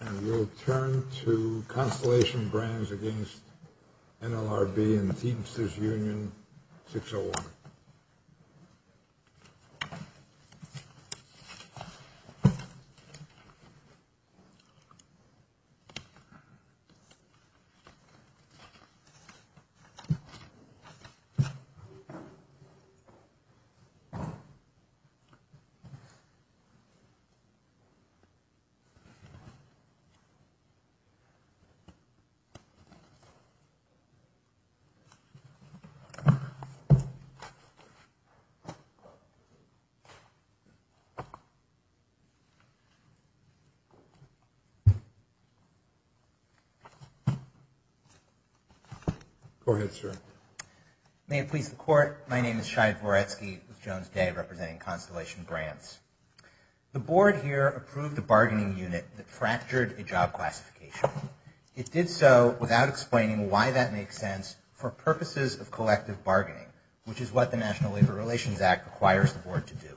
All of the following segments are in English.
And we'll turn to Constellation Brands against NLRB and Teamsters Union 601. Shai Voretsky May it please the Court, my name is Shai Voretsky with Jones Day representing Constellation Brands. The board here approved a bargaining unit that fractured a job classification. It did so without explaining why that makes sense for purposes of collective bargaining, which is what the National Labor Relations Act requires the board to do.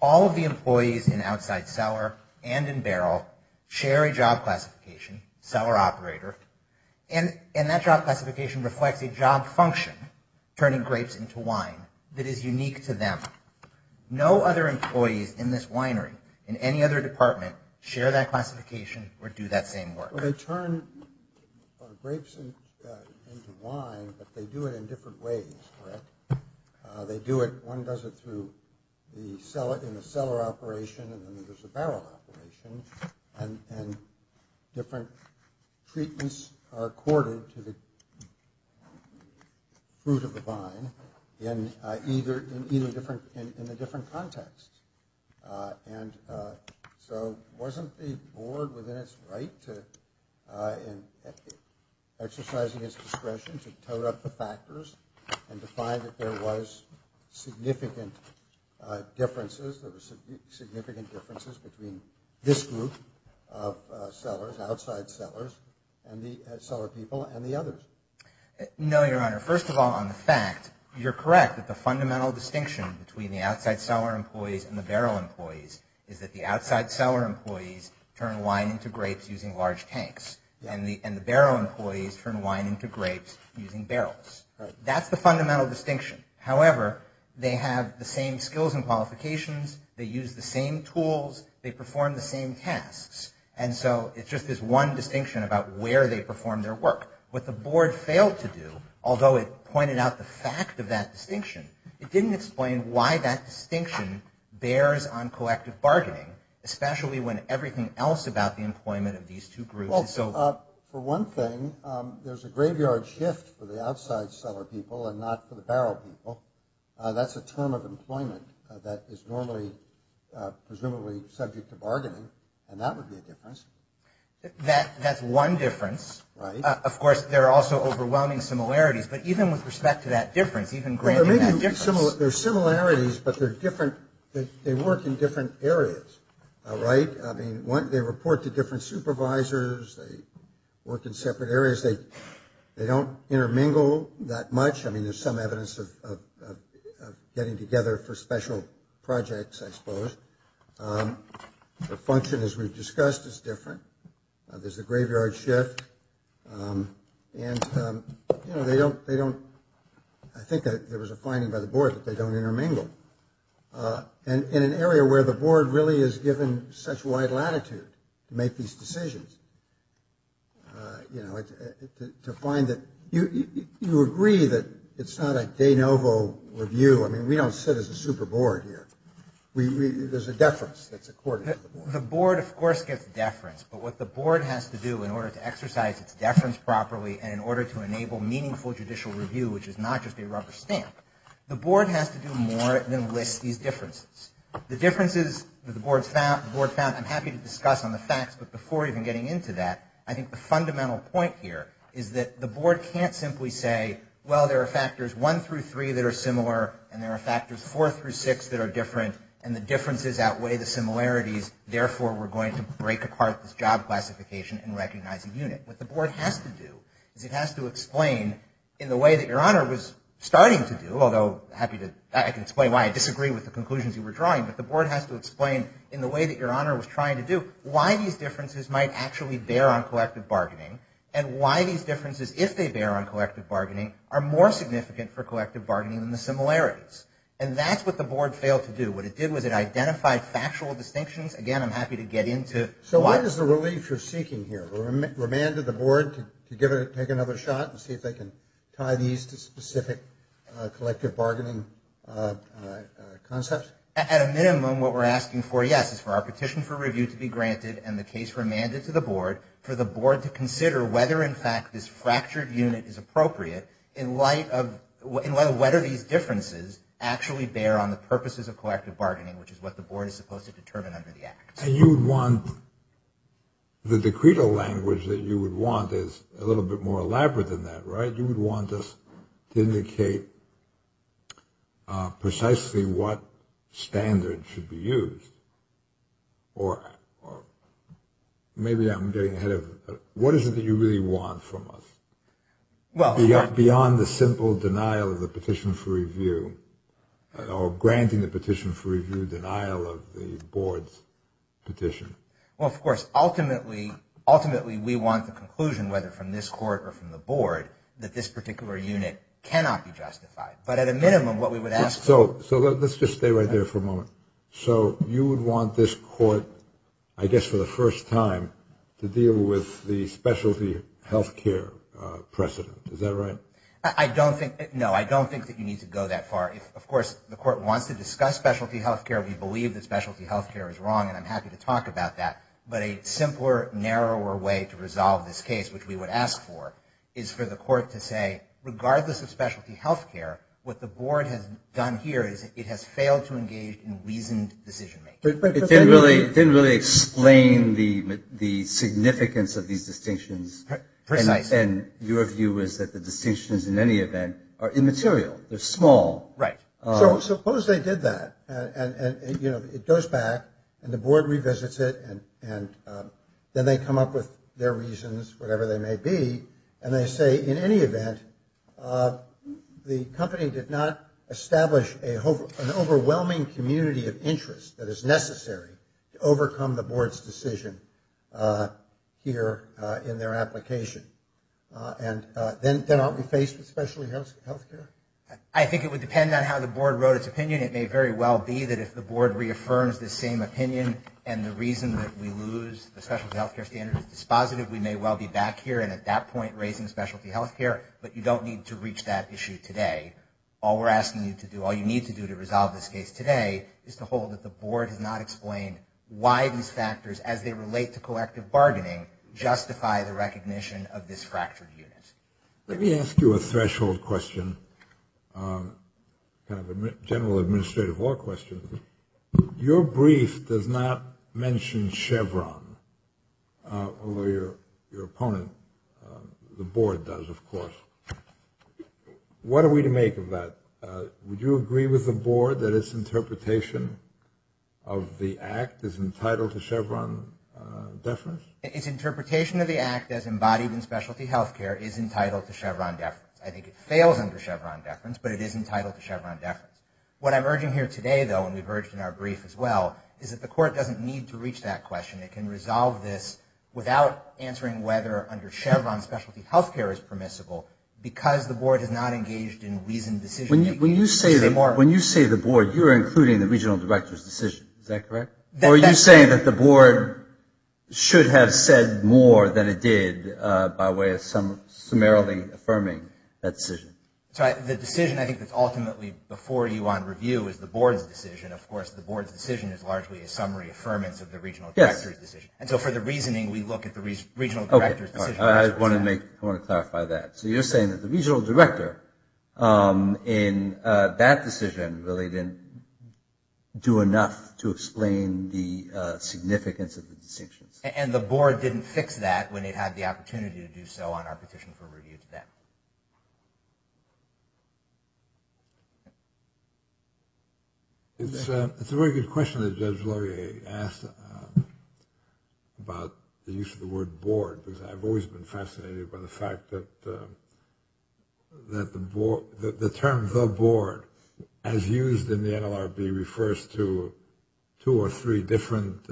All of the employees in outside cellar and in barrel share a job classification, cellar operator, and that job classification reflects a job function, turning grapes into wine, that is unique to them. No other employees in this winery, in any other department, share that classification or do that same work. Well they turn grapes into wine, but they do it in different ways, correct? They do it, one does it through the cellar, in the cellar operation and then there's a barrel operation and different treatments are accorded to the fruit of the vine in either cellar. They do it in a different context. So wasn't the board within its right to exercising its discretion to toad up the factors and to find that there was significant differences, there were significant differences between this group of cellars, outside cellars, and the cellar people and the others? No Your Honor. Your Honor, first of all on the fact, you're correct that the fundamental distinction between the outside cellar employees and the barrel employees is that the outside cellar employees turn wine into grapes using large tanks and the barrel employees turn wine into grapes using barrels. Right. That's the fundamental distinction. However, they have the same skills and qualifications, they use the same tools, they perform the same tasks and so it's just this one distinction about where they perform their work. What the board failed to do, although it pointed out the fact of that distinction, it didn't explain why that distinction bears on collective bargaining, especially when everything else about the employment of these two groups is so... For one thing, there's a graveyard shift for the outside cellar people and not for the barrel people. That's a term of employment that is normally, presumably, subject to bargaining and that would be a difference. That's one difference. Right. Of course, there are also overwhelming similarities, but even with respect to that difference, even granting that difference... There may be similarities, but they're different, they work in different areas, all right? I mean, they report to different supervisors, they work in separate areas, they don't intermingle that much. I mean, there's some evidence of getting together for special projects, I suppose. The function, as we've discussed, is different. There's a graveyard shift and they don't... I think there was a finding by the board that they don't intermingle, and in an area where the board really is given such wide latitude to make these decisions, to find that... You agree that it's not a de novo review, I mean, we don't sit as a super board here. There's a deference that's accorded to the board. The board, of course, gets deference, but what the board has to do in order to exercise its deference properly and in order to enable meaningful judicial review, which is not just a rubber stamp, the board has to do more than list these differences. The differences that the board found, I'm happy to discuss on the facts, but before even getting into that, I think the fundamental point here is that the board can't simply say, well, there are factors one through three that are similar, and there are factors four through six that are different, and the differences outweigh the similarities, therefore we're going to break apart this job classification and recognize a unit. What the board has to do is it has to explain in the way that your honor was starting to do, although I can explain why I disagree with the conclusions you were drawing, but the board has to explain in the way that your honor was trying to do, why these differences might actually bear on collective bargaining, and why these differences, if they bear on collective bargaining, are more significant for collective bargaining than the similarities. And that's what the board failed to do. What it did was it identified factual distinctions. Again, I'm happy to get into... So what is the relief you're seeking here? Remanded the board to take another shot and see if they can tie these to specific collective bargaining concepts? At a minimum, what we're asking for, yes, is for our petition for review to be granted and the case remanded to the board, for the board to consider whether in fact this fractured unit is appropriate in light of whether these differences actually bear on the purposes of collective bargaining, which is what the board is supposed to determine under the act. And you would want... The decreto language that you would want is a little bit more elaborate than that, right? You would want this to indicate precisely what standard should be used, or maybe I'm getting ahead of... What is it that you really want from us? Beyond the simple denial of the petition for review or granting the petition for review denial of the board's petition. Well, of course, ultimately we want the conclusion, whether from this court or from the board, that this particular unit cannot be justified. But at a minimum, what we would ask... So let's just stay right there for a moment. So you would want this court, I guess for the first time, to deal with the specialty health care precedent. Is that right? No, I don't think that you need to go that far. If, of course, the court wants to discuss specialty health care, we believe that specialty health care is wrong, and I'm happy to talk about that. But a simpler, narrower way to resolve this case, which we would ask for, is for the court to say, regardless of specialty health care, what the board has done here is it has failed to engage in reasoned decision-making. It didn't really explain the significance of these distinctions. And your view is that the distinctions, in any event, are immaterial. They're small. Right. So suppose they did that, and it goes back, and the board revisits it, and then they come up with their reasons, whatever they may be, and they say, in any event, the company did not establish an overwhelming community of interest that is necessary to overcome the And then aren't we faced with specialty health care? I think it would depend on how the board wrote its opinion. It may very well be that if the board reaffirms this same opinion, and the reason that we lose the specialty health care standard is dispositive, we may well be back here and at that point raising specialty health care. But you don't need to reach that issue today. All we're asking you to do, all you need to do to resolve this case today, is to hold that the board has not explained why these factors, as they relate to collective bargaining, justify the recognition of this fractured unit. Let me ask you a threshold question, kind of a general administrative law question. Your brief does not mention Chevron, although your opponent, the board, does, of course. What are we to make of that? Would you agree with the board that its interpretation of the act is entitled to Chevron deference? Its interpretation of the act as embodied in specialty health care is entitled to Chevron deference. I think it fails under Chevron deference, but it is entitled to Chevron deference. What I'm urging here today, though, and we've urged in our brief as well, is that the court doesn't need to reach that question. It can resolve this without answering whether under Chevron specialty health care is permissible because the board has not engaged in reasoned decision making. When you say the board, you're including the regional director's decision, is that correct? Or are you saying that the board should have said more than it did by way of summarily affirming that decision? So the decision, I think, that's ultimately before you on review is the board's decision. Of course, the board's decision is largely a summary affirmance of the regional director's decision. And so for the reasoning, we look at the regional director's decision. I want to clarify that. So you're saying that the regional director in that decision really didn't do enough to explain the significance of the decision? And the board didn't fix that when it had the opportunity to do so on our petition for review today. It's a very good question that Judge Laurier asked about the use of the word board, because I've always been fascinated by the fact that the term the board, as used in the NLRB, refers to two or three different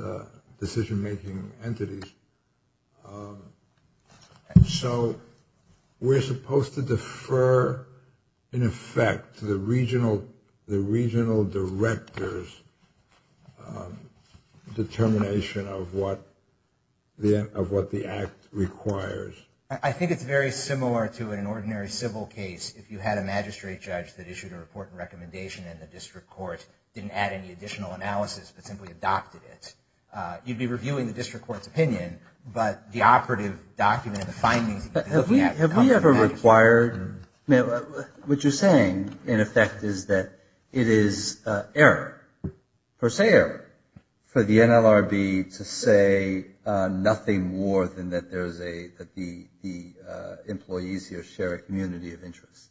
decision-making entities. So we're supposed to defer, in effect, to the regional director's determination of what the act requires. I think it's very similar to an ordinary civil case. If you had a magistrate judge that issued a report and recommendation and the district court didn't add any additional analysis, but simply adopted it, you'd be reviewing the district court's opinion. But the operative document, the findings that we have come from that. Have we ever required? What you're saying, in effect, is that it is an error, per se error, for the NLRB to say nothing more than that the employees here share a community of interest.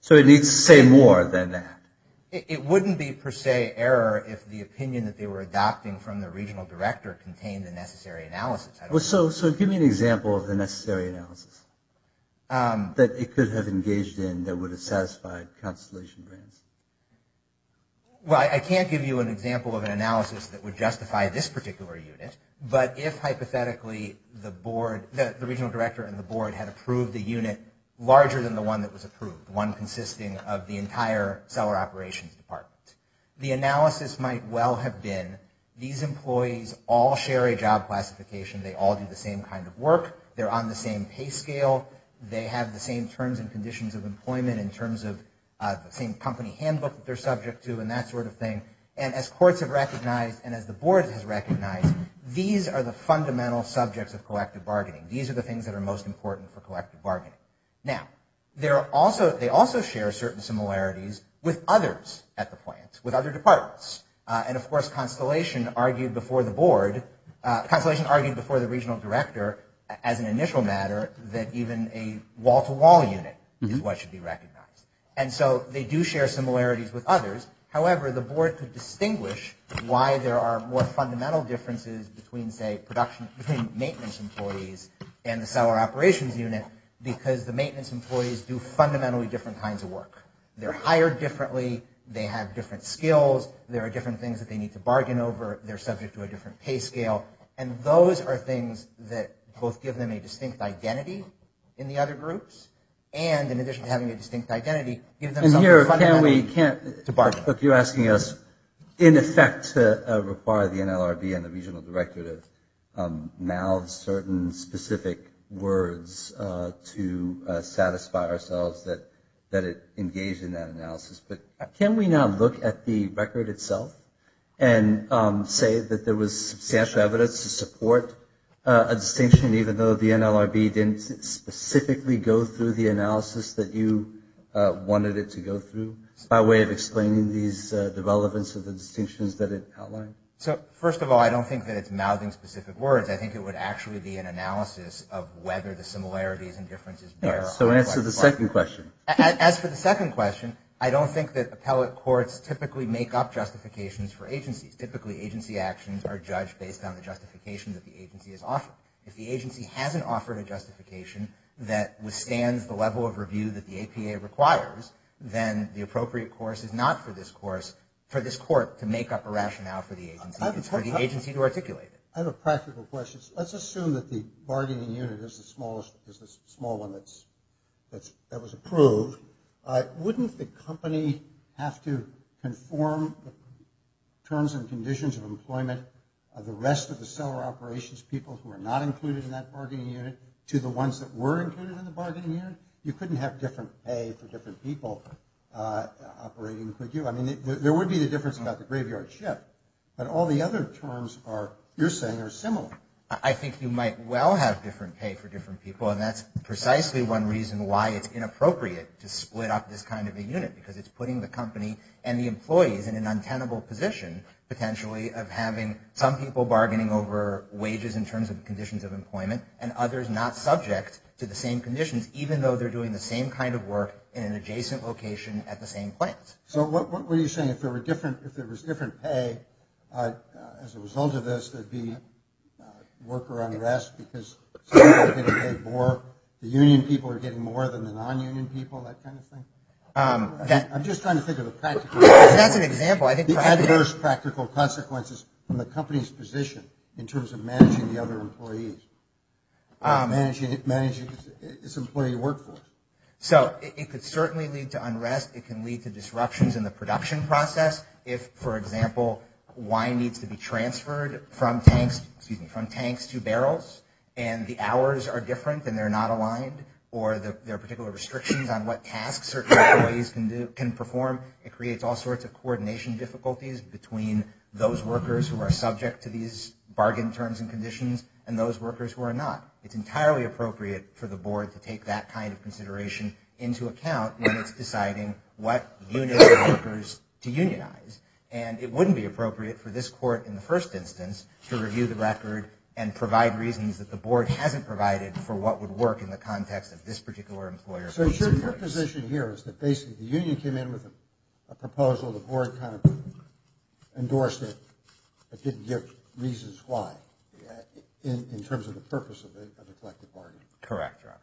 So it needs to say more than that. It wouldn't be, per se, error if the opinion that they were adopting from the regional director contained the necessary analysis. So give me an example of the necessary analysis that it could have engaged in that would have satisfied Constellation Grants. Well, I can't give you an example of an analysis that would justify this particular unit, but if, hypothetically, the board, the regional director and the board had approved a unit larger than the one that was approved, one consisting of the entire seller operations department, the analysis might well have been these employees all share a job classification. They all do the same kind of work. They're on the same pay scale. They have the same terms and conditions of employment in terms of the same company handbook that they're subject to and that sort of thing. And as courts have recognized and as the board has recognized, these are the fundamental subjects of collective bargaining. These are the things that are most important for collective bargaining. Now, they also share certain similarities with others at the plant, with other departments. And, of course, Constellation argued before the board – Constellation argued before the regional director as an initial matter that even a wall-to-wall unit is what should be recognized. And so they do share similarities with others. However, the board could distinguish why there are more fundamental differences between, say, production – between maintenance employees and the seller operations unit because the maintenance employees do fundamentally different kinds of work. They're hired differently. They have different skills. There are different things that they need to bargain over. They're subject to a different pay scale. And those are things that both give them a distinct identity in the other groups and, in addition to having a distinct identity, give them something fundamental to bargain. You're asking us, in effect, to require the NLRB and the regional director to mouth certain specific words to satisfy ourselves that it engaged in that analysis. But can we now look at the record itself and say that there was substantial evidence to support a distinction even though the NLRB didn't specifically go through the analysis that you wanted it to go through by way of explaining these – the relevance of the distinctions that it outlined? So, first of all, I don't think that it's mouthing specific words. I think it would actually be an analysis of whether the similarities and differences there are highly likely. So answer the second question. As for the second question, I don't think that appellate courts typically make up justifications for agencies. Typically, agency actions are judged based on the justification that the agency has offered. If the agency hasn't offered a justification that withstands the level of review that the APA requires, then the appropriate course is not for this course – for this court to make up a rationale for the agency. It's for the agency to articulate it. I have a practical question. Let's assume that the bargaining unit is the smallest – is the small one that's – that was approved. Wouldn't the company have to conform terms and conditions of employment of the rest of the seller operations people who are not included in that bargaining unit to the ones that were included in the bargaining unit? You couldn't have different pay for different people operating with you. I mean, there would be the difference about the graveyard ship, but all the other terms are – you're saying are similar. I think you might well have different pay for different people, and that's precisely one reason why it's inappropriate to split up this kind of a unit, because it's putting the company and the employees in an untenable position, potentially, of having some people bargaining over wages in terms of conditions of employment and others not subject to the same conditions, even though they're doing the same kind of work in an adjacent location at the same plant. So what were you saying? If there were different – if there was different pay as a result of this, there'd be worker unrest because some people are getting paid more, the union people are getting more than the non-union people, that kind of thing? I'm just trying to think of a practical – That's an example. The adverse practical consequences from the company's position in terms of managing the other employees, managing its employee workforce. So it could certainly lead to unrest. It can lead to disruptions in the production process if, for example, wine needs to be transferred from tanks to barrels, and the hours are different and they're not aligned, or there are particular restrictions on what tasks certain employees can perform. It creates all sorts of coordination difficulties between those workers who are subject to these bargain terms and conditions and those workers who are not. It's entirely appropriate for the board to take that kind of consideration into account when it's deciding what unit of workers to unionize, and it wouldn't be appropriate for this court, in the first instance, to review the record and provide reasons that the board hasn't provided for what would work in the context of this particular employer. So your position here is that basically the union came in with a proposal, the board kind of endorsed it, but didn't give reasons why in terms of the purpose of a collective bargaining. Correct, Your Honor.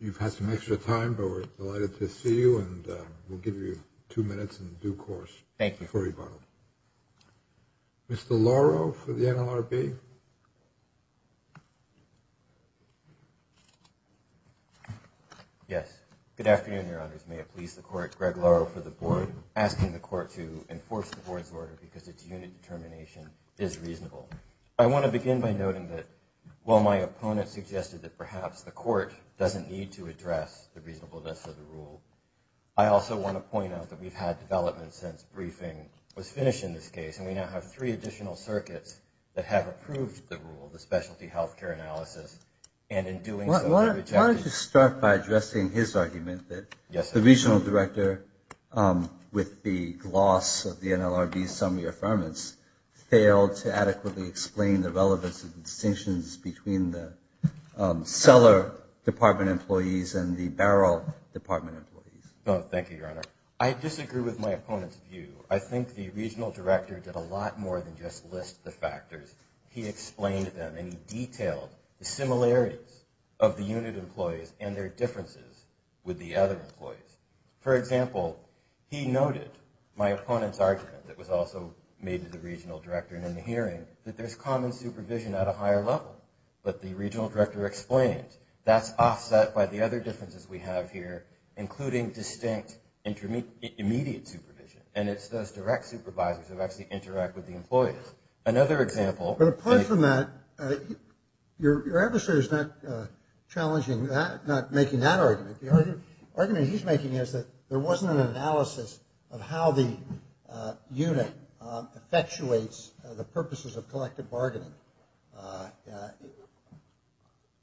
You've had some extra time, but we're delighted to see you, and we'll give you two minutes in due course before we vote. Mr. Loro for the NLRB. Yes. Good afternoon, Your Honors. May it please the court, Greg Loro for the board, asking the court to enforce the board's order because its unit determination is reasonable. I want to begin by noting that while my opponent suggested that perhaps the court doesn't need to address the reasonableness of the rule, I also want to point out that we've had developments since briefing was finished in this case, and we now have three additional circuits that have approved the rule, the specialty health care analysis, and in doing Why don't you start by addressing his argument that the regional director, with the gloss of the NLRB's summary affirmance, failed to adequately explain the relevance of the distinctions between the cellar department employees and the barrel department employees. Thank you, Your Honor. I disagree with my opponent's view. I think the regional director did a lot more than just list the factors. He explained them, and he detailed the similarities of the unit employees and their differences with the other employees. For example, he noted my opponent's argument that was also made to the regional director in the hearing that there's common supervision at a higher level, but the regional director explained that's offset by the other differences we have here, including distinct immediate supervision, and it's those direct supervisors who actually interact with the employees. Another example. But apart from that, your adversary is not challenging that, not making that argument. The argument he's making is that there wasn't an analysis of how the unit effectuates the purposes of collective bargaining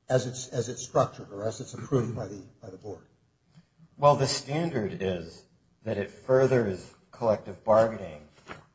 as it's structured or as it's approved by the board. Well, the standard is that it furthers collective bargaining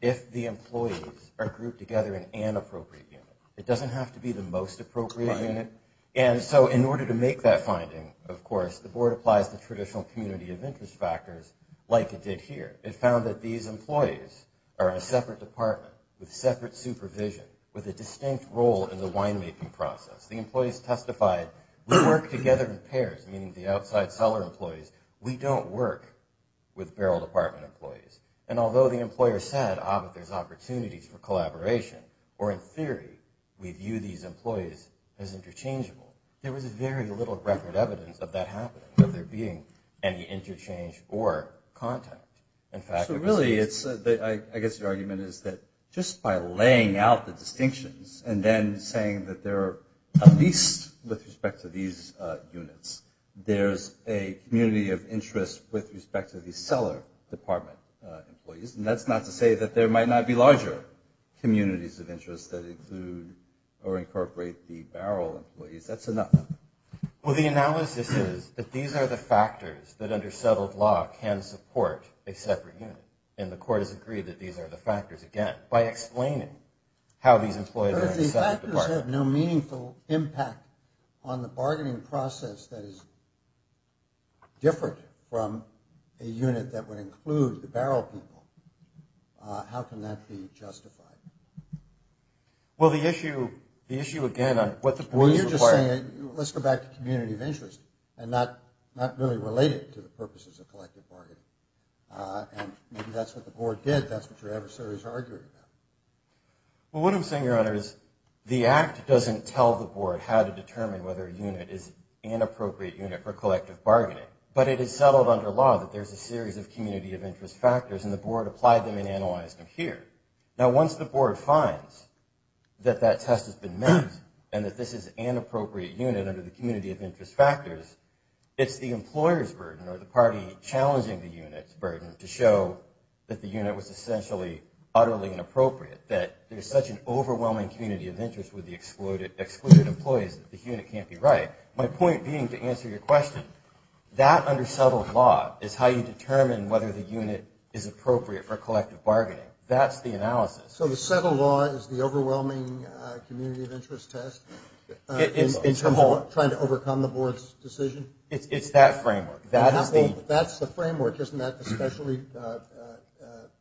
if the employees are grouped together in an appropriate unit. It doesn't have to be the most appropriate unit. And so in order to make that finding, of course, the board applies the traditional community of interest factors like it did here. It found that these employees are in a separate department with separate supervision, with a distinct role in the winemaking process. The employees testified, we work together in pairs, meaning the outside seller employees. We don't work with barrel department employees. And although the employer said, ah, but there's opportunities for collaboration, or in theory, we view these employees as interchangeable, there was very little record evidence of that happening, of there being any interchange or contact. So really, I guess the argument is that just by laying out the distinctions and then saying that there are, at least with respect to these units, there's a community of interest with respect to the seller department employees. And that's not to say that there might not be larger communities of interest that include or incorporate the barrel employees. That's enough. Well, the analysis is that these are the factors that, under settled law, can support a separate unit. And the court has agreed that these are the factors, again, by explaining how these employees are in a separate department. If those factors have no meaningful impact on the bargaining process that is different from a unit that would include the barrel people, how can that be justified? Well, the issue, again, on what the community requires. Well, you're just saying, let's go back to community of interest and not really relate it to the purposes of collective bargaining. And maybe that's what the board did. That's what your adversary is arguing about. Well, what I'm saying, Your Honor, is the act doesn't tell the board how to determine whether a unit is an appropriate unit for collective bargaining. But it is settled under law that there's a series of community of interest factors. And the board applied them and analyzed them here. Now, once the board finds that that test has been met and that this is an appropriate unit under the community of interest factors, it's the employer's burden or the party challenging the unit's burden to show that the unit was essentially utterly inappropriate, that there's such an overwhelming community of interest with the excluded employees that the unit can't be right. My point being, to answer your question, that under settled law is how you determine whether the unit is appropriate for collective bargaining. That's the analysis. So the settled law is the overwhelming community of interest test in terms of trying to overcome the board's decision? It's that framework. That's the framework. Isn't that the specialty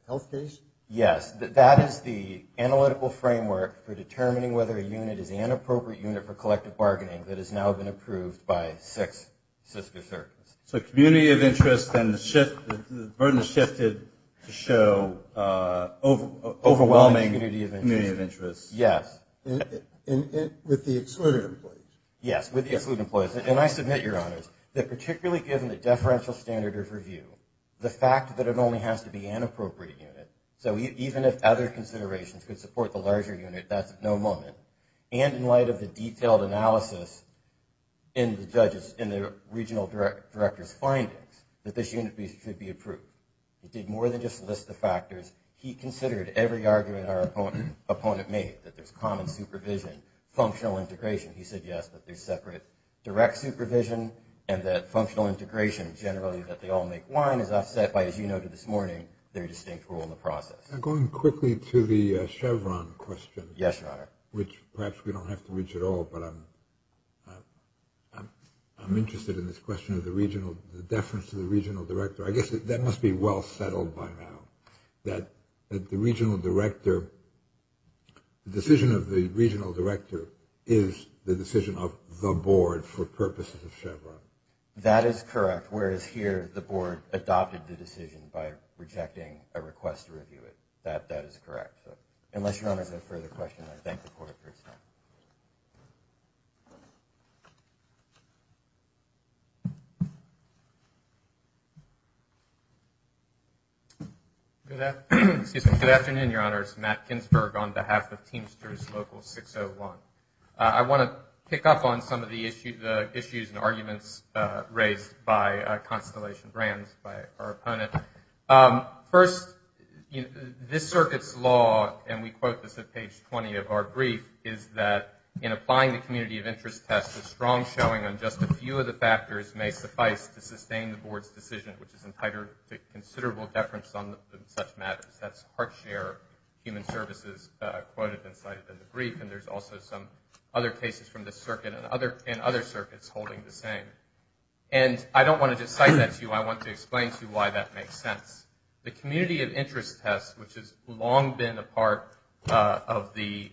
health case? Yes. That is the analytical framework for determining whether a unit is an appropriate unit for collective bargaining that has now been approved by six Cisco circuits. So community of interest and the burden has shifted to show overwhelming community of interest. Yes. With the excluded employees. Yes, with the excluded employees. And I submit, Your Honors, that particularly given the deferential standard of review, the fact that it only has to be an appropriate unit, so even if other considerations could support the larger unit, that's at no moment. And in light of the detailed analysis in the regional director's findings, that this unit should be approved. It did more than just list the factors. He considered every argument our opponent made, that there's common supervision, functional integration. He said, yes, that there's separate direct supervision and that functional integration, generally, that they all make wine, is offset by, as you noted this morning, their distinct role in the process. Going quickly to the Chevron question. Yes, Your Honor. Which perhaps we don't have to reach at all, but I'm interested in this question of the regional, the deference to the regional director. I guess that must be well settled by now, that the regional director, the decision of the regional director is the decision of the board for purposes of Chevron. That is correct, whereas here, the board adopted the decision by rejecting a request to review it. That is correct. Unless Your Honors have further questions, I thank the Court for its time. Good afternoon, Your Honors. Matt Ginsberg on behalf of Teamsters Local 601. I want to pick up on some of the issues and arguments raised by Constellation Brands, by our opponent. First, this circuit's law, and we quote this at page 20 of our brief, is that in applying the community of interest test, a strong showing on just a few of the factors may suffice to sustain the board's decision, which is entitled to considerable deference on such matters. That's Hartshare Human Services quoted and cited in the brief, and there's also some other cases from this circuit and other circuits holding the same. And I don't want to just cite that to you. I want to explain to you why that makes sense. The community of interest test, which has long been a part of the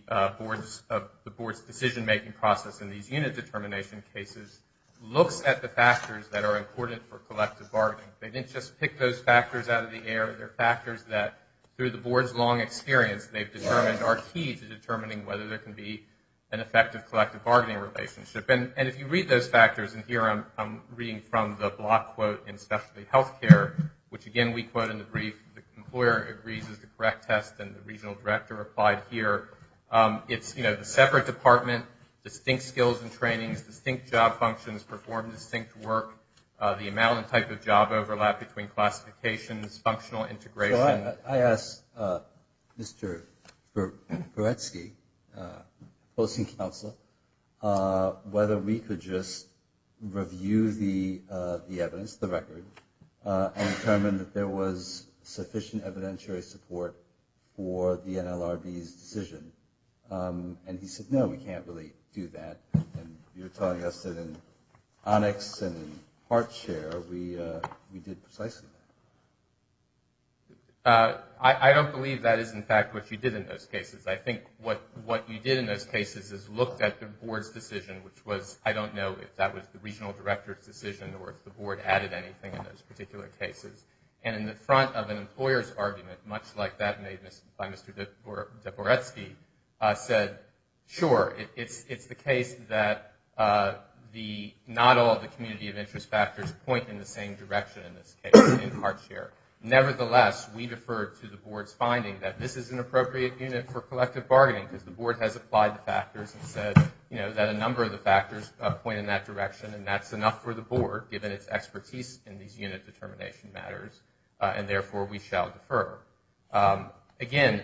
board's decision-making process in these unit determination cases, looks at the factors that are important for collective bargaining. They didn't just pick those factors out of the air. They're factors that, through the board's long experience, they've determined are key to determining whether there can be an effective collective bargaining relationship. And if you read those factors, and here I'm reading from the block quote in specialty health care, which, again, we quote in the brief, the employer agrees is the correct test, and the regional director applied here. It's, you know, the separate department, distinct skills and trainings, distinct job functions, perform distinct work, the amount and type of job overlap between classifications, functional integration. So I asked Mr. Beretsky, posting counselor, whether we could just review the evidence, the record, and determine that there was sufficient evidentiary support for the NLRB's decision. And he said, no, we can't really do that. And you're telling us that in Onyx and in Hartshare, we did precisely that. Uh, I don't believe that is, in fact, what you did in those cases. I think what you did in those cases is looked at the board's decision, which was, I don't know if that was the regional director's decision or if the board added anything in those particular cases. And in the front of an employer's argument, much like that made by Mr. Deporetsky, said, sure, it's the case that not all the community of interest factors point in the same direction in this case, in Hartshare. Nevertheless, we defer to the board's finding that this is an appropriate unit for collective bargaining, because the board has applied the factors and said, you know, that a number of the factors point in that direction. And that's enough for the board, given its expertise in these unit determination matters. And therefore, we shall defer. Um, again,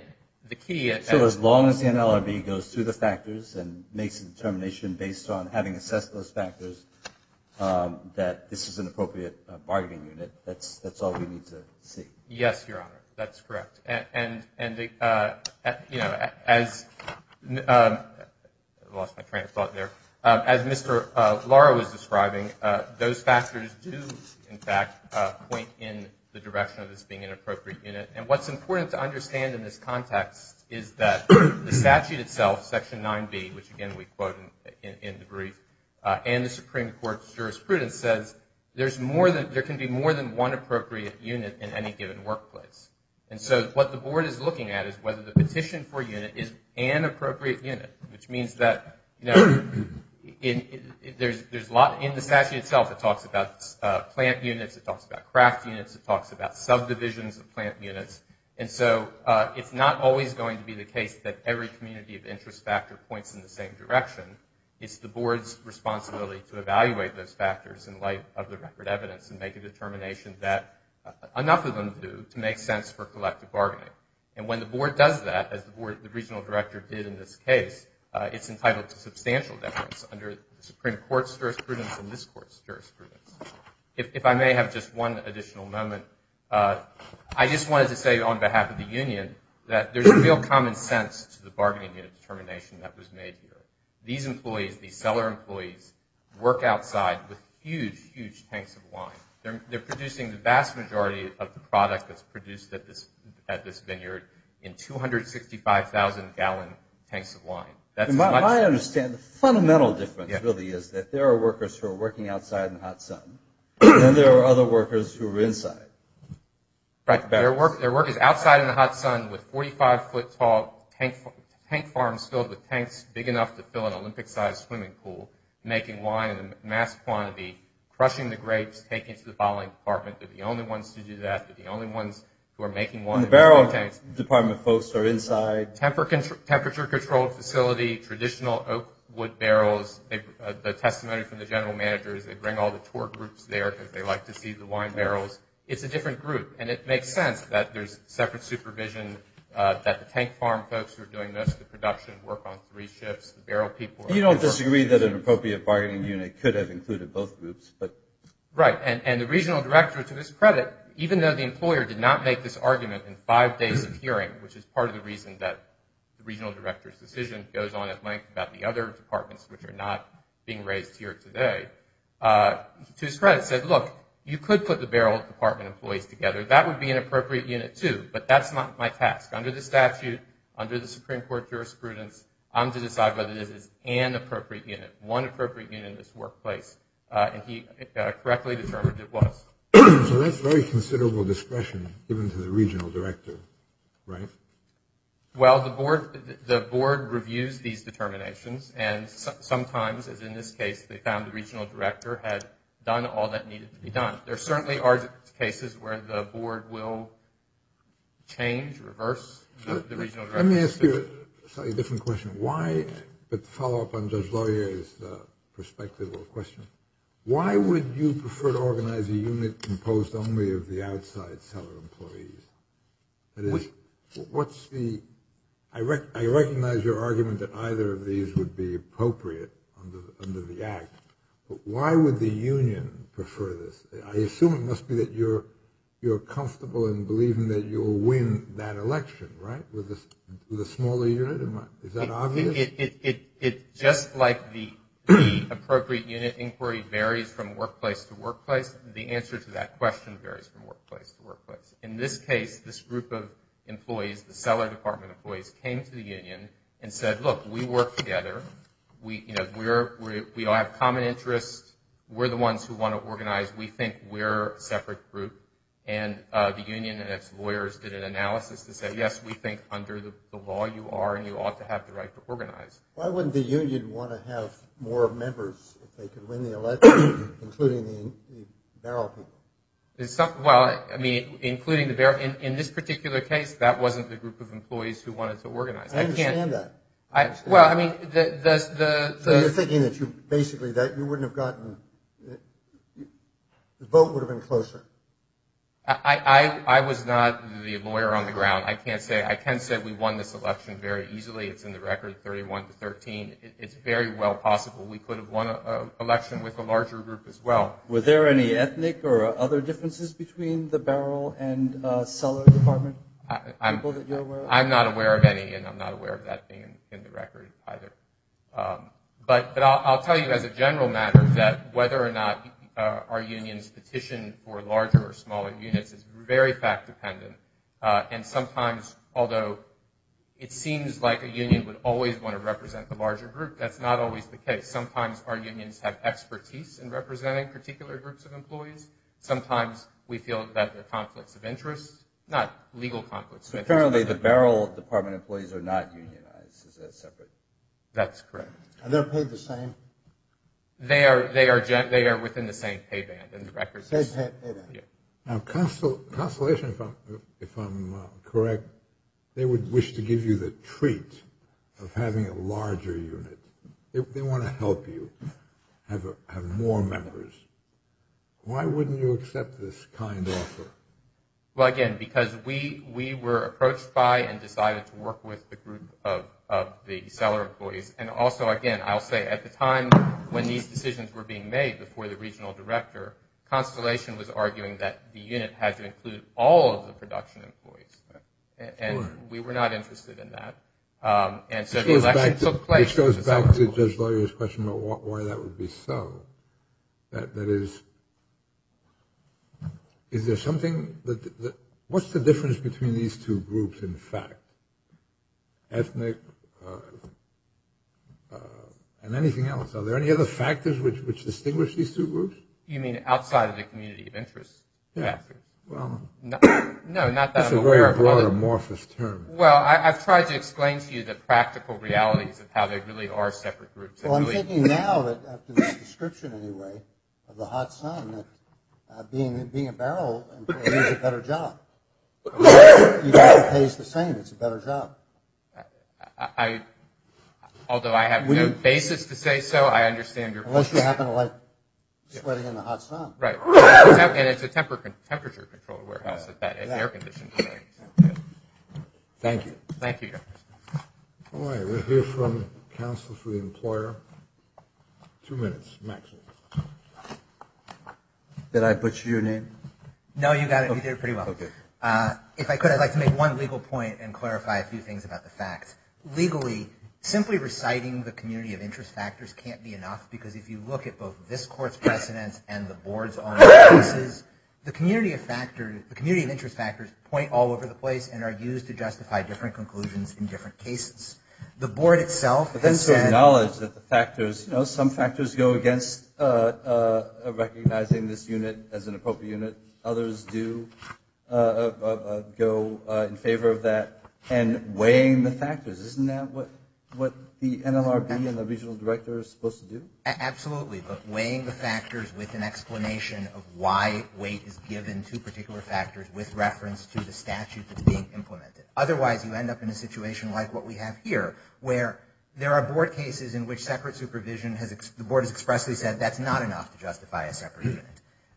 the key... So as long as the NLRB goes through the factors and makes a determination based on having assessed those factors, um, that this is an appropriate bargaining unit, that's, that's all we need to see. Yes, Your Honor, that's correct. And, and, uh, you know, as, um, I lost my train of thought there. As Mr. Lara was describing, those factors do, in fact, point in the direction of this being an appropriate unit. And what's important to understand in this context is that the statute itself, Section 9B, which, again, we quote in, in the brief, uh, and the Supreme Court's jurisprudence says there's more than, there can be more than one appropriate unit in any given workplace. And so what the board is looking at is whether the petition for a unit is an appropriate unit, which means that, you know, in, there's, there's a lot in the statute itself that talks about, uh, plant units, it talks about craft units, it talks about subdivisions of plant units. And so, uh, it's not always going to be the case that every community of interest factor points in the same direction. It's the board's responsibility to evaluate those factors in light of the record evidence and make a determination that enough of them do to make sense for collective bargaining. And when the board does that, as the board, the regional director did in this case, uh, it's entitled to substantial deference under the Supreme Court's jurisprudence and this Court's jurisprudence. If I may have just one additional moment, uh, I just wanted to say on behalf of the union that there's real common sense to the bargaining unit determination that was made here. These employees, these seller employees, work outside with huge, huge tanks of wine. They're, they're producing the vast majority of the product that's produced at this, at this vineyard in 265,000 gallon tanks of wine. That's much... I understand the fundamental difference really is that there are workers who are working outside in the hot sun, and there are other workers who are inside. Right. Their work, their work is outside in the hot sun with 45 foot tall tank, tank farms filled with tanks big enough to fill an Olympic sized swimming pool, making wine in mass quantity, crushing the grapes, taking it to the bottling department. They're the only ones to do that. They're the only ones who are making wine. The barrel department folks are inside. Temperature, temperature controlled facility, traditional oak wood barrels. The testimony from the general manager is they bring all the tour groups there because they like to see the wine barrels. It's a different group, and it makes sense that there's separate supervision that the tank farm folks who are doing most of the production work on three shifts. The barrel people are... You don't disagree that an appropriate bargaining unit could have included both groups, but... Right. And, and the regional director to his credit, even though the employer did not make this argument in five days of hearing, which is part of the reason that the regional director's the other departments which are not being raised here today, to his credit said, look, you could put the barrel department employees together. That would be an appropriate unit too, but that's not my task. Under the statute, under the Supreme Court jurisprudence, I'm to decide whether this is an appropriate unit, one appropriate unit in this workplace, and he correctly determined it was. So that's very considerable discretion given to the regional director, right? Well, the board, the board reviews these determinations, and sometimes, as in this case, they found the regional director had done all that needed to be done. There certainly are cases where the board will change, reverse the regional director. Let me ask you a slightly different question. Why, but to follow up on Judge Laurier's perspective or question, why would you prefer to organize a unit composed only of the outside seller employees? That is, what's the, I recognize your argument that either of these would be appropriate under the act, but why would the union prefer this? I assume it must be that you're comfortable in believing that you'll win that election, right, with a smaller unit? Is that obvious? It, just like the appropriate unit inquiry varies from workplace to workplace, the answer to that question varies from workplace to workplace. In this case, this group of employees, the seller department employees, came to the union and said, look, we work together. We, you know, we're, we all have common interests. We're the ones who want to organize. We think we're a separate group. And the union and its lawyers did an analysis to say, yes, we think under the law you are and you ought to have the right to organize. Why wouldn't the union want to have more members if they could win the election, including the barrel pool? Well, I mean, including the barrel, in this particular case, that wasn't the group of employees who wanted to organize. I understand that. I, well, I mean, the, the, the. You're thinking that you basically, that you wouldn't have gotten, the vote would have been closer. I, I, I was not the lawyer on the ground. I can't say, I can say we won this election very easily. It's in the record 31 to 13. It's very well possible we could have won an election with a larger group as well. Were there any ethnic or other differences between the barrel and cellar department? I'm not aware of any, and I'm not aware of that being in the record either. But, but I'll tell you as a general matter that whether or not our unions petition for larger or smaller units is very fact dependent. And sometimes, although it seems like a union would always want to represent the larger group, that's not always the case. Sometimes our unions have expertise in representing particular groups of employees. Sometimes we feel that the conflicts of interest, not legal conflicts. Apparently the barrel department employees are not unionized. Is that separate? That's correct. Are they paid the same? They are, they are, they are within the same pay band and the records. Now, constellation, if I'm, if I'm correct, they would wish to give you the treat of having a larger unit. They want to help you have more members. Why wouldn't you accept this kind offer? Well, again, because we, we were approached by and decided to work with the group of, of the cellar employees. And also, again, I'll say at the time when these decisions were being made before the regional director, constellation was arguing that the unit had to include all of the production employees. And we were not interested in that. And so the election took place. Which goes back to Judge Lawyer's question about why that would be so that, that is, is there something that, what's the difference between these two groups? In fact, ethnic and anything else. Are there any other factors which, which distinguish these two groups? You mean outside of the community of interest? No, not that I'm aware of. It's a very broad, amorphous term. Well, I, I've tried to explain to you the practical realities of how they really are separate groups. Well, I'm thinking now that after this description anyway, of the hot sun, that being, being a barrel employee is a better job. You don't have to pay the same. It's a better job. I, although I have no basis to say so, I understand your point. Unless you happen to like sweating in the hot sun. Right. And it's a temperature, temperature controlled warehouse that, that air conditioning. Thank you. Thank you. All right. We'll hear from counsel for the employer. Two minutes, Max. Did I butcher your name? No, you got it. You did pretty well. If I could, I'd like to make one legal point and clarify a few things about the facts. Legally, simply reciting the community of interest factors can't be enough. Because if you look at both this court's precedents and the board's own cases, the community of factors, the community of interest factors point all over the place and are used to justify different conclusions in different cases. The board itself. But then some knowledge that the factors, you know, some factors go against, uh, uh, recognizing this unit as an appropriate unit. Others do, uh, uh, uh, go, uh, in favor of that and weighing the factors. Isn't that what, what the NLRB and the regional director is supposed to do? Absolutely. But weighing the factors with an explanation of why weight is given to particular factors with reference to the statute that's being implemented. Otherwise, you end up in a situation like what we have here, where there are board cases in which separate supervision has, the board has expressly said that's not enough to justify a separate unit.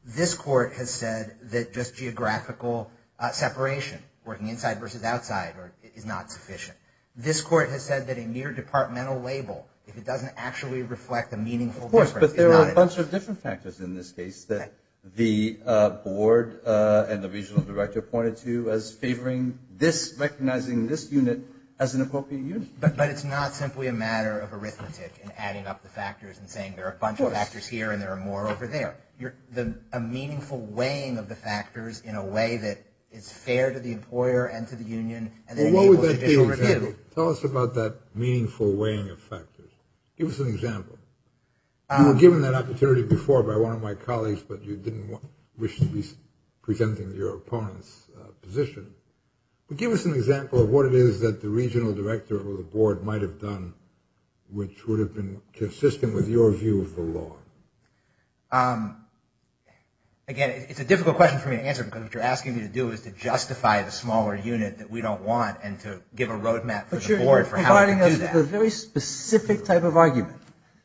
This court has said that just geographical separation, working inside versus outside, is not sufficient. This court has said that a mere departmental label, if it doesn't actually reflect a meaningful difference, is not enough. Of course, but there are a bunch of different factors in this case that the, uh, board, uh, and the regional director pointed to as favoring this, recognizing this unit as an appropriate unit. But, but it's not simply a matter of arithmetic and adding up the factors and saying there are a bunch of factors here and there are more over there. You're, the, a meaningful weighing of the factors in a way that is fair to the employer and to the union. Tell us about that meaningful weighing of factors. Give us an example. You were given that opportunity before by one of my colleagues, but you didn't wish to be presenting your opponent's position. But give us an example of what it is that the regional director or the board might have done, which would have been consistent with your view of the law. Um, again, it's a difficult question for me to answer because what you're asking me to do is to justify the smaller unit that we don't want and to give a roadmap for the board for how to do that. The very specific type of argument,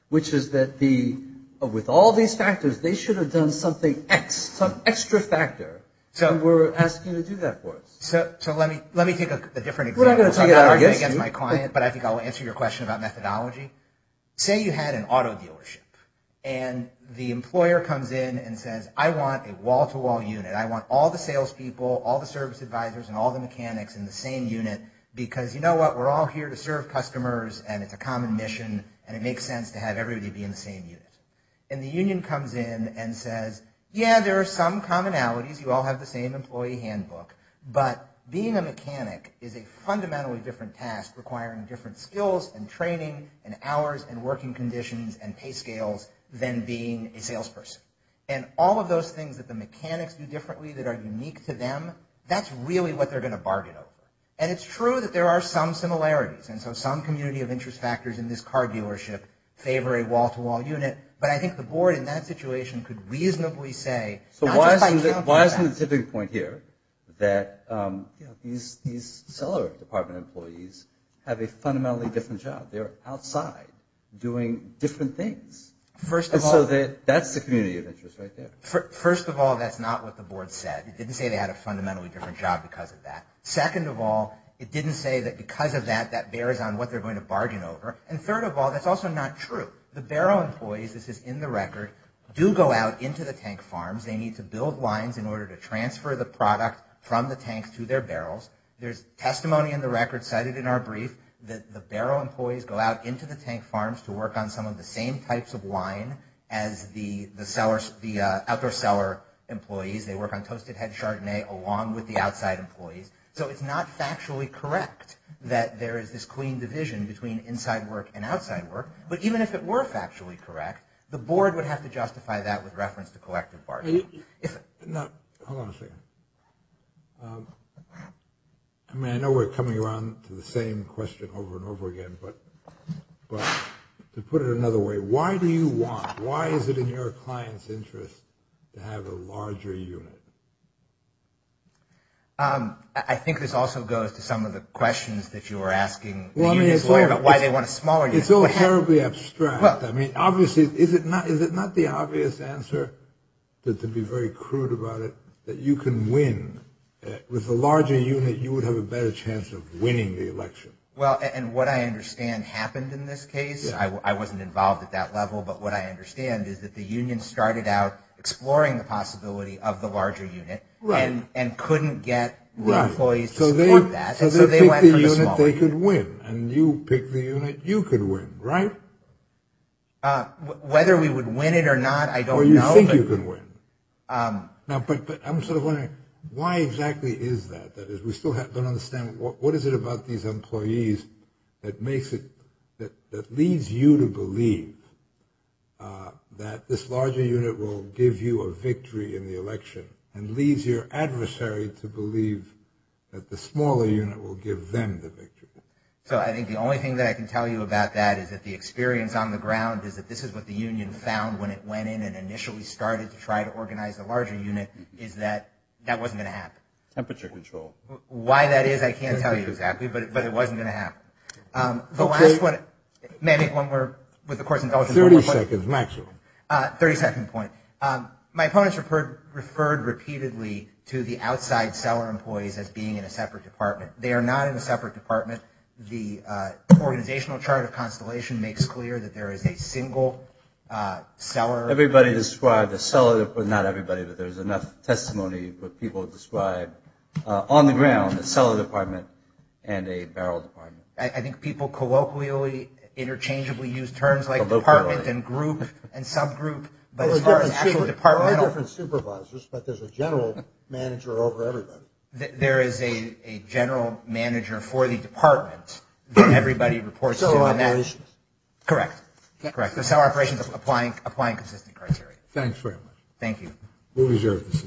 which is that the, with all these factors, they extra factor, so we're asking you to do that for us. So, so let me, let me take a different example. I'm not arguing against my client, but I think I'll answer your question about methodology. Say you had an auto dealership and the employer comes in and says, I want a wall-to-wall unit. I want all the salespeople, all the service advisors and all the mechanics in the same unit because you know what? We're all here to serve customers and it's a common mission and it makes sense to have everybody be in the same unit. And the union comes in and says, yeah, there are some commonalities. You all have the same employee handbook, but being a mechanic is a fundamentally different task requiring different skills and training and hours and working conditions and pay scales than being a salesperson. And all of those things that the mechanics do differently that are unique to them, that's really what they're going to bargain over. And it's true that there are some similarities. And so some community of interest factors in this car dealership favor a wall-to-wall unit. But I think the board in that situation could reasonably say... So why isn't the tipping point here that these seller department employees have a fundamentally different job? They're outside doing different things. And so that's the community of interest right there. First of all, that's not what the board said. It didn't say they had a fundamentally different job because of that. Second of all, it didn't say that because of that, that bears on what they're going to bargain over. And third of all, that's also not true. The barrel employees, this is in the record, do go out into the tank farms. They need to build lines in order to transfer the product from the tank to their barrels. There's testimony in the record cited in our brief that the barrel employees go out into the tank farms to work on some of the same types of wine as the outdoor seller employees. They work on toasted head chardonnay along with the outside employees. So it's not factually correct that there is this clean division between inside work and outside work. But even if it were factually correct, the board would have to justify that with reference to collective bargaining. Now, hold on a second. I mean, I know we're coming around to the same question over and over again. But to put it another way, why do you want, why is it in your client's interest to have a larger unit? I think this also goes to some of the questions that you were asking the unions about why they want a smaller unit. It's all terribly abstract. I mean, obviously, is it not the obvious answer? But to be very crude about it, that you can win with a larger unit, you would have a better chance of winning the election. Well, and what I understand happened in this case, I wasn't involved at that level. But what I understand is that the union started out exploring the possibility of the larger unit and couldn't get the employees to support that. And so they went for the small unit. So they picked the unit they could win. And you picked the unit you could win, right? Whether we would win it or not, I don't know. Or you think you could win. Now, but I'm sort of wondering, why exactly is that? That is, we still don't understand what is it about these employees that makes it, that that this larger unit will give you a victory in the election and leaves your adversary to believe that the smaller unit will give them the victory. So I think the only thing that I can tell you about that is that the experience on the ground is that this is what the union found when it went in and initially started to try to organize the larger unit, is that that wasn't going to happen. Temperature control. Why that is, I can't tell you exactly, but it wasn't going to happen. The last one, may I make one more, with, of course, indulgence. 30 seconds, maximum. 30 second point. My opponents referred repeatedly to the outside seller employees as being in a separate department. They are not in a separate department. The organizational chart of Constellation makes clear that there is a single seller. Everybody described a seller, but not everybody, but there's enough testimony that people describe on the ground, a seller department and a barrel department. I think people colloquially interchangeably use terms like department and group and subgroup, but as far as actually departmental. There are different supervisors, but there's a general manager over everybody. There is a general manager for the department that everybody reports to. Seller operations. Correct. Correct. The seller operations applying consistent criteria. Thanks very much. Thank you. We'll reserve the seat.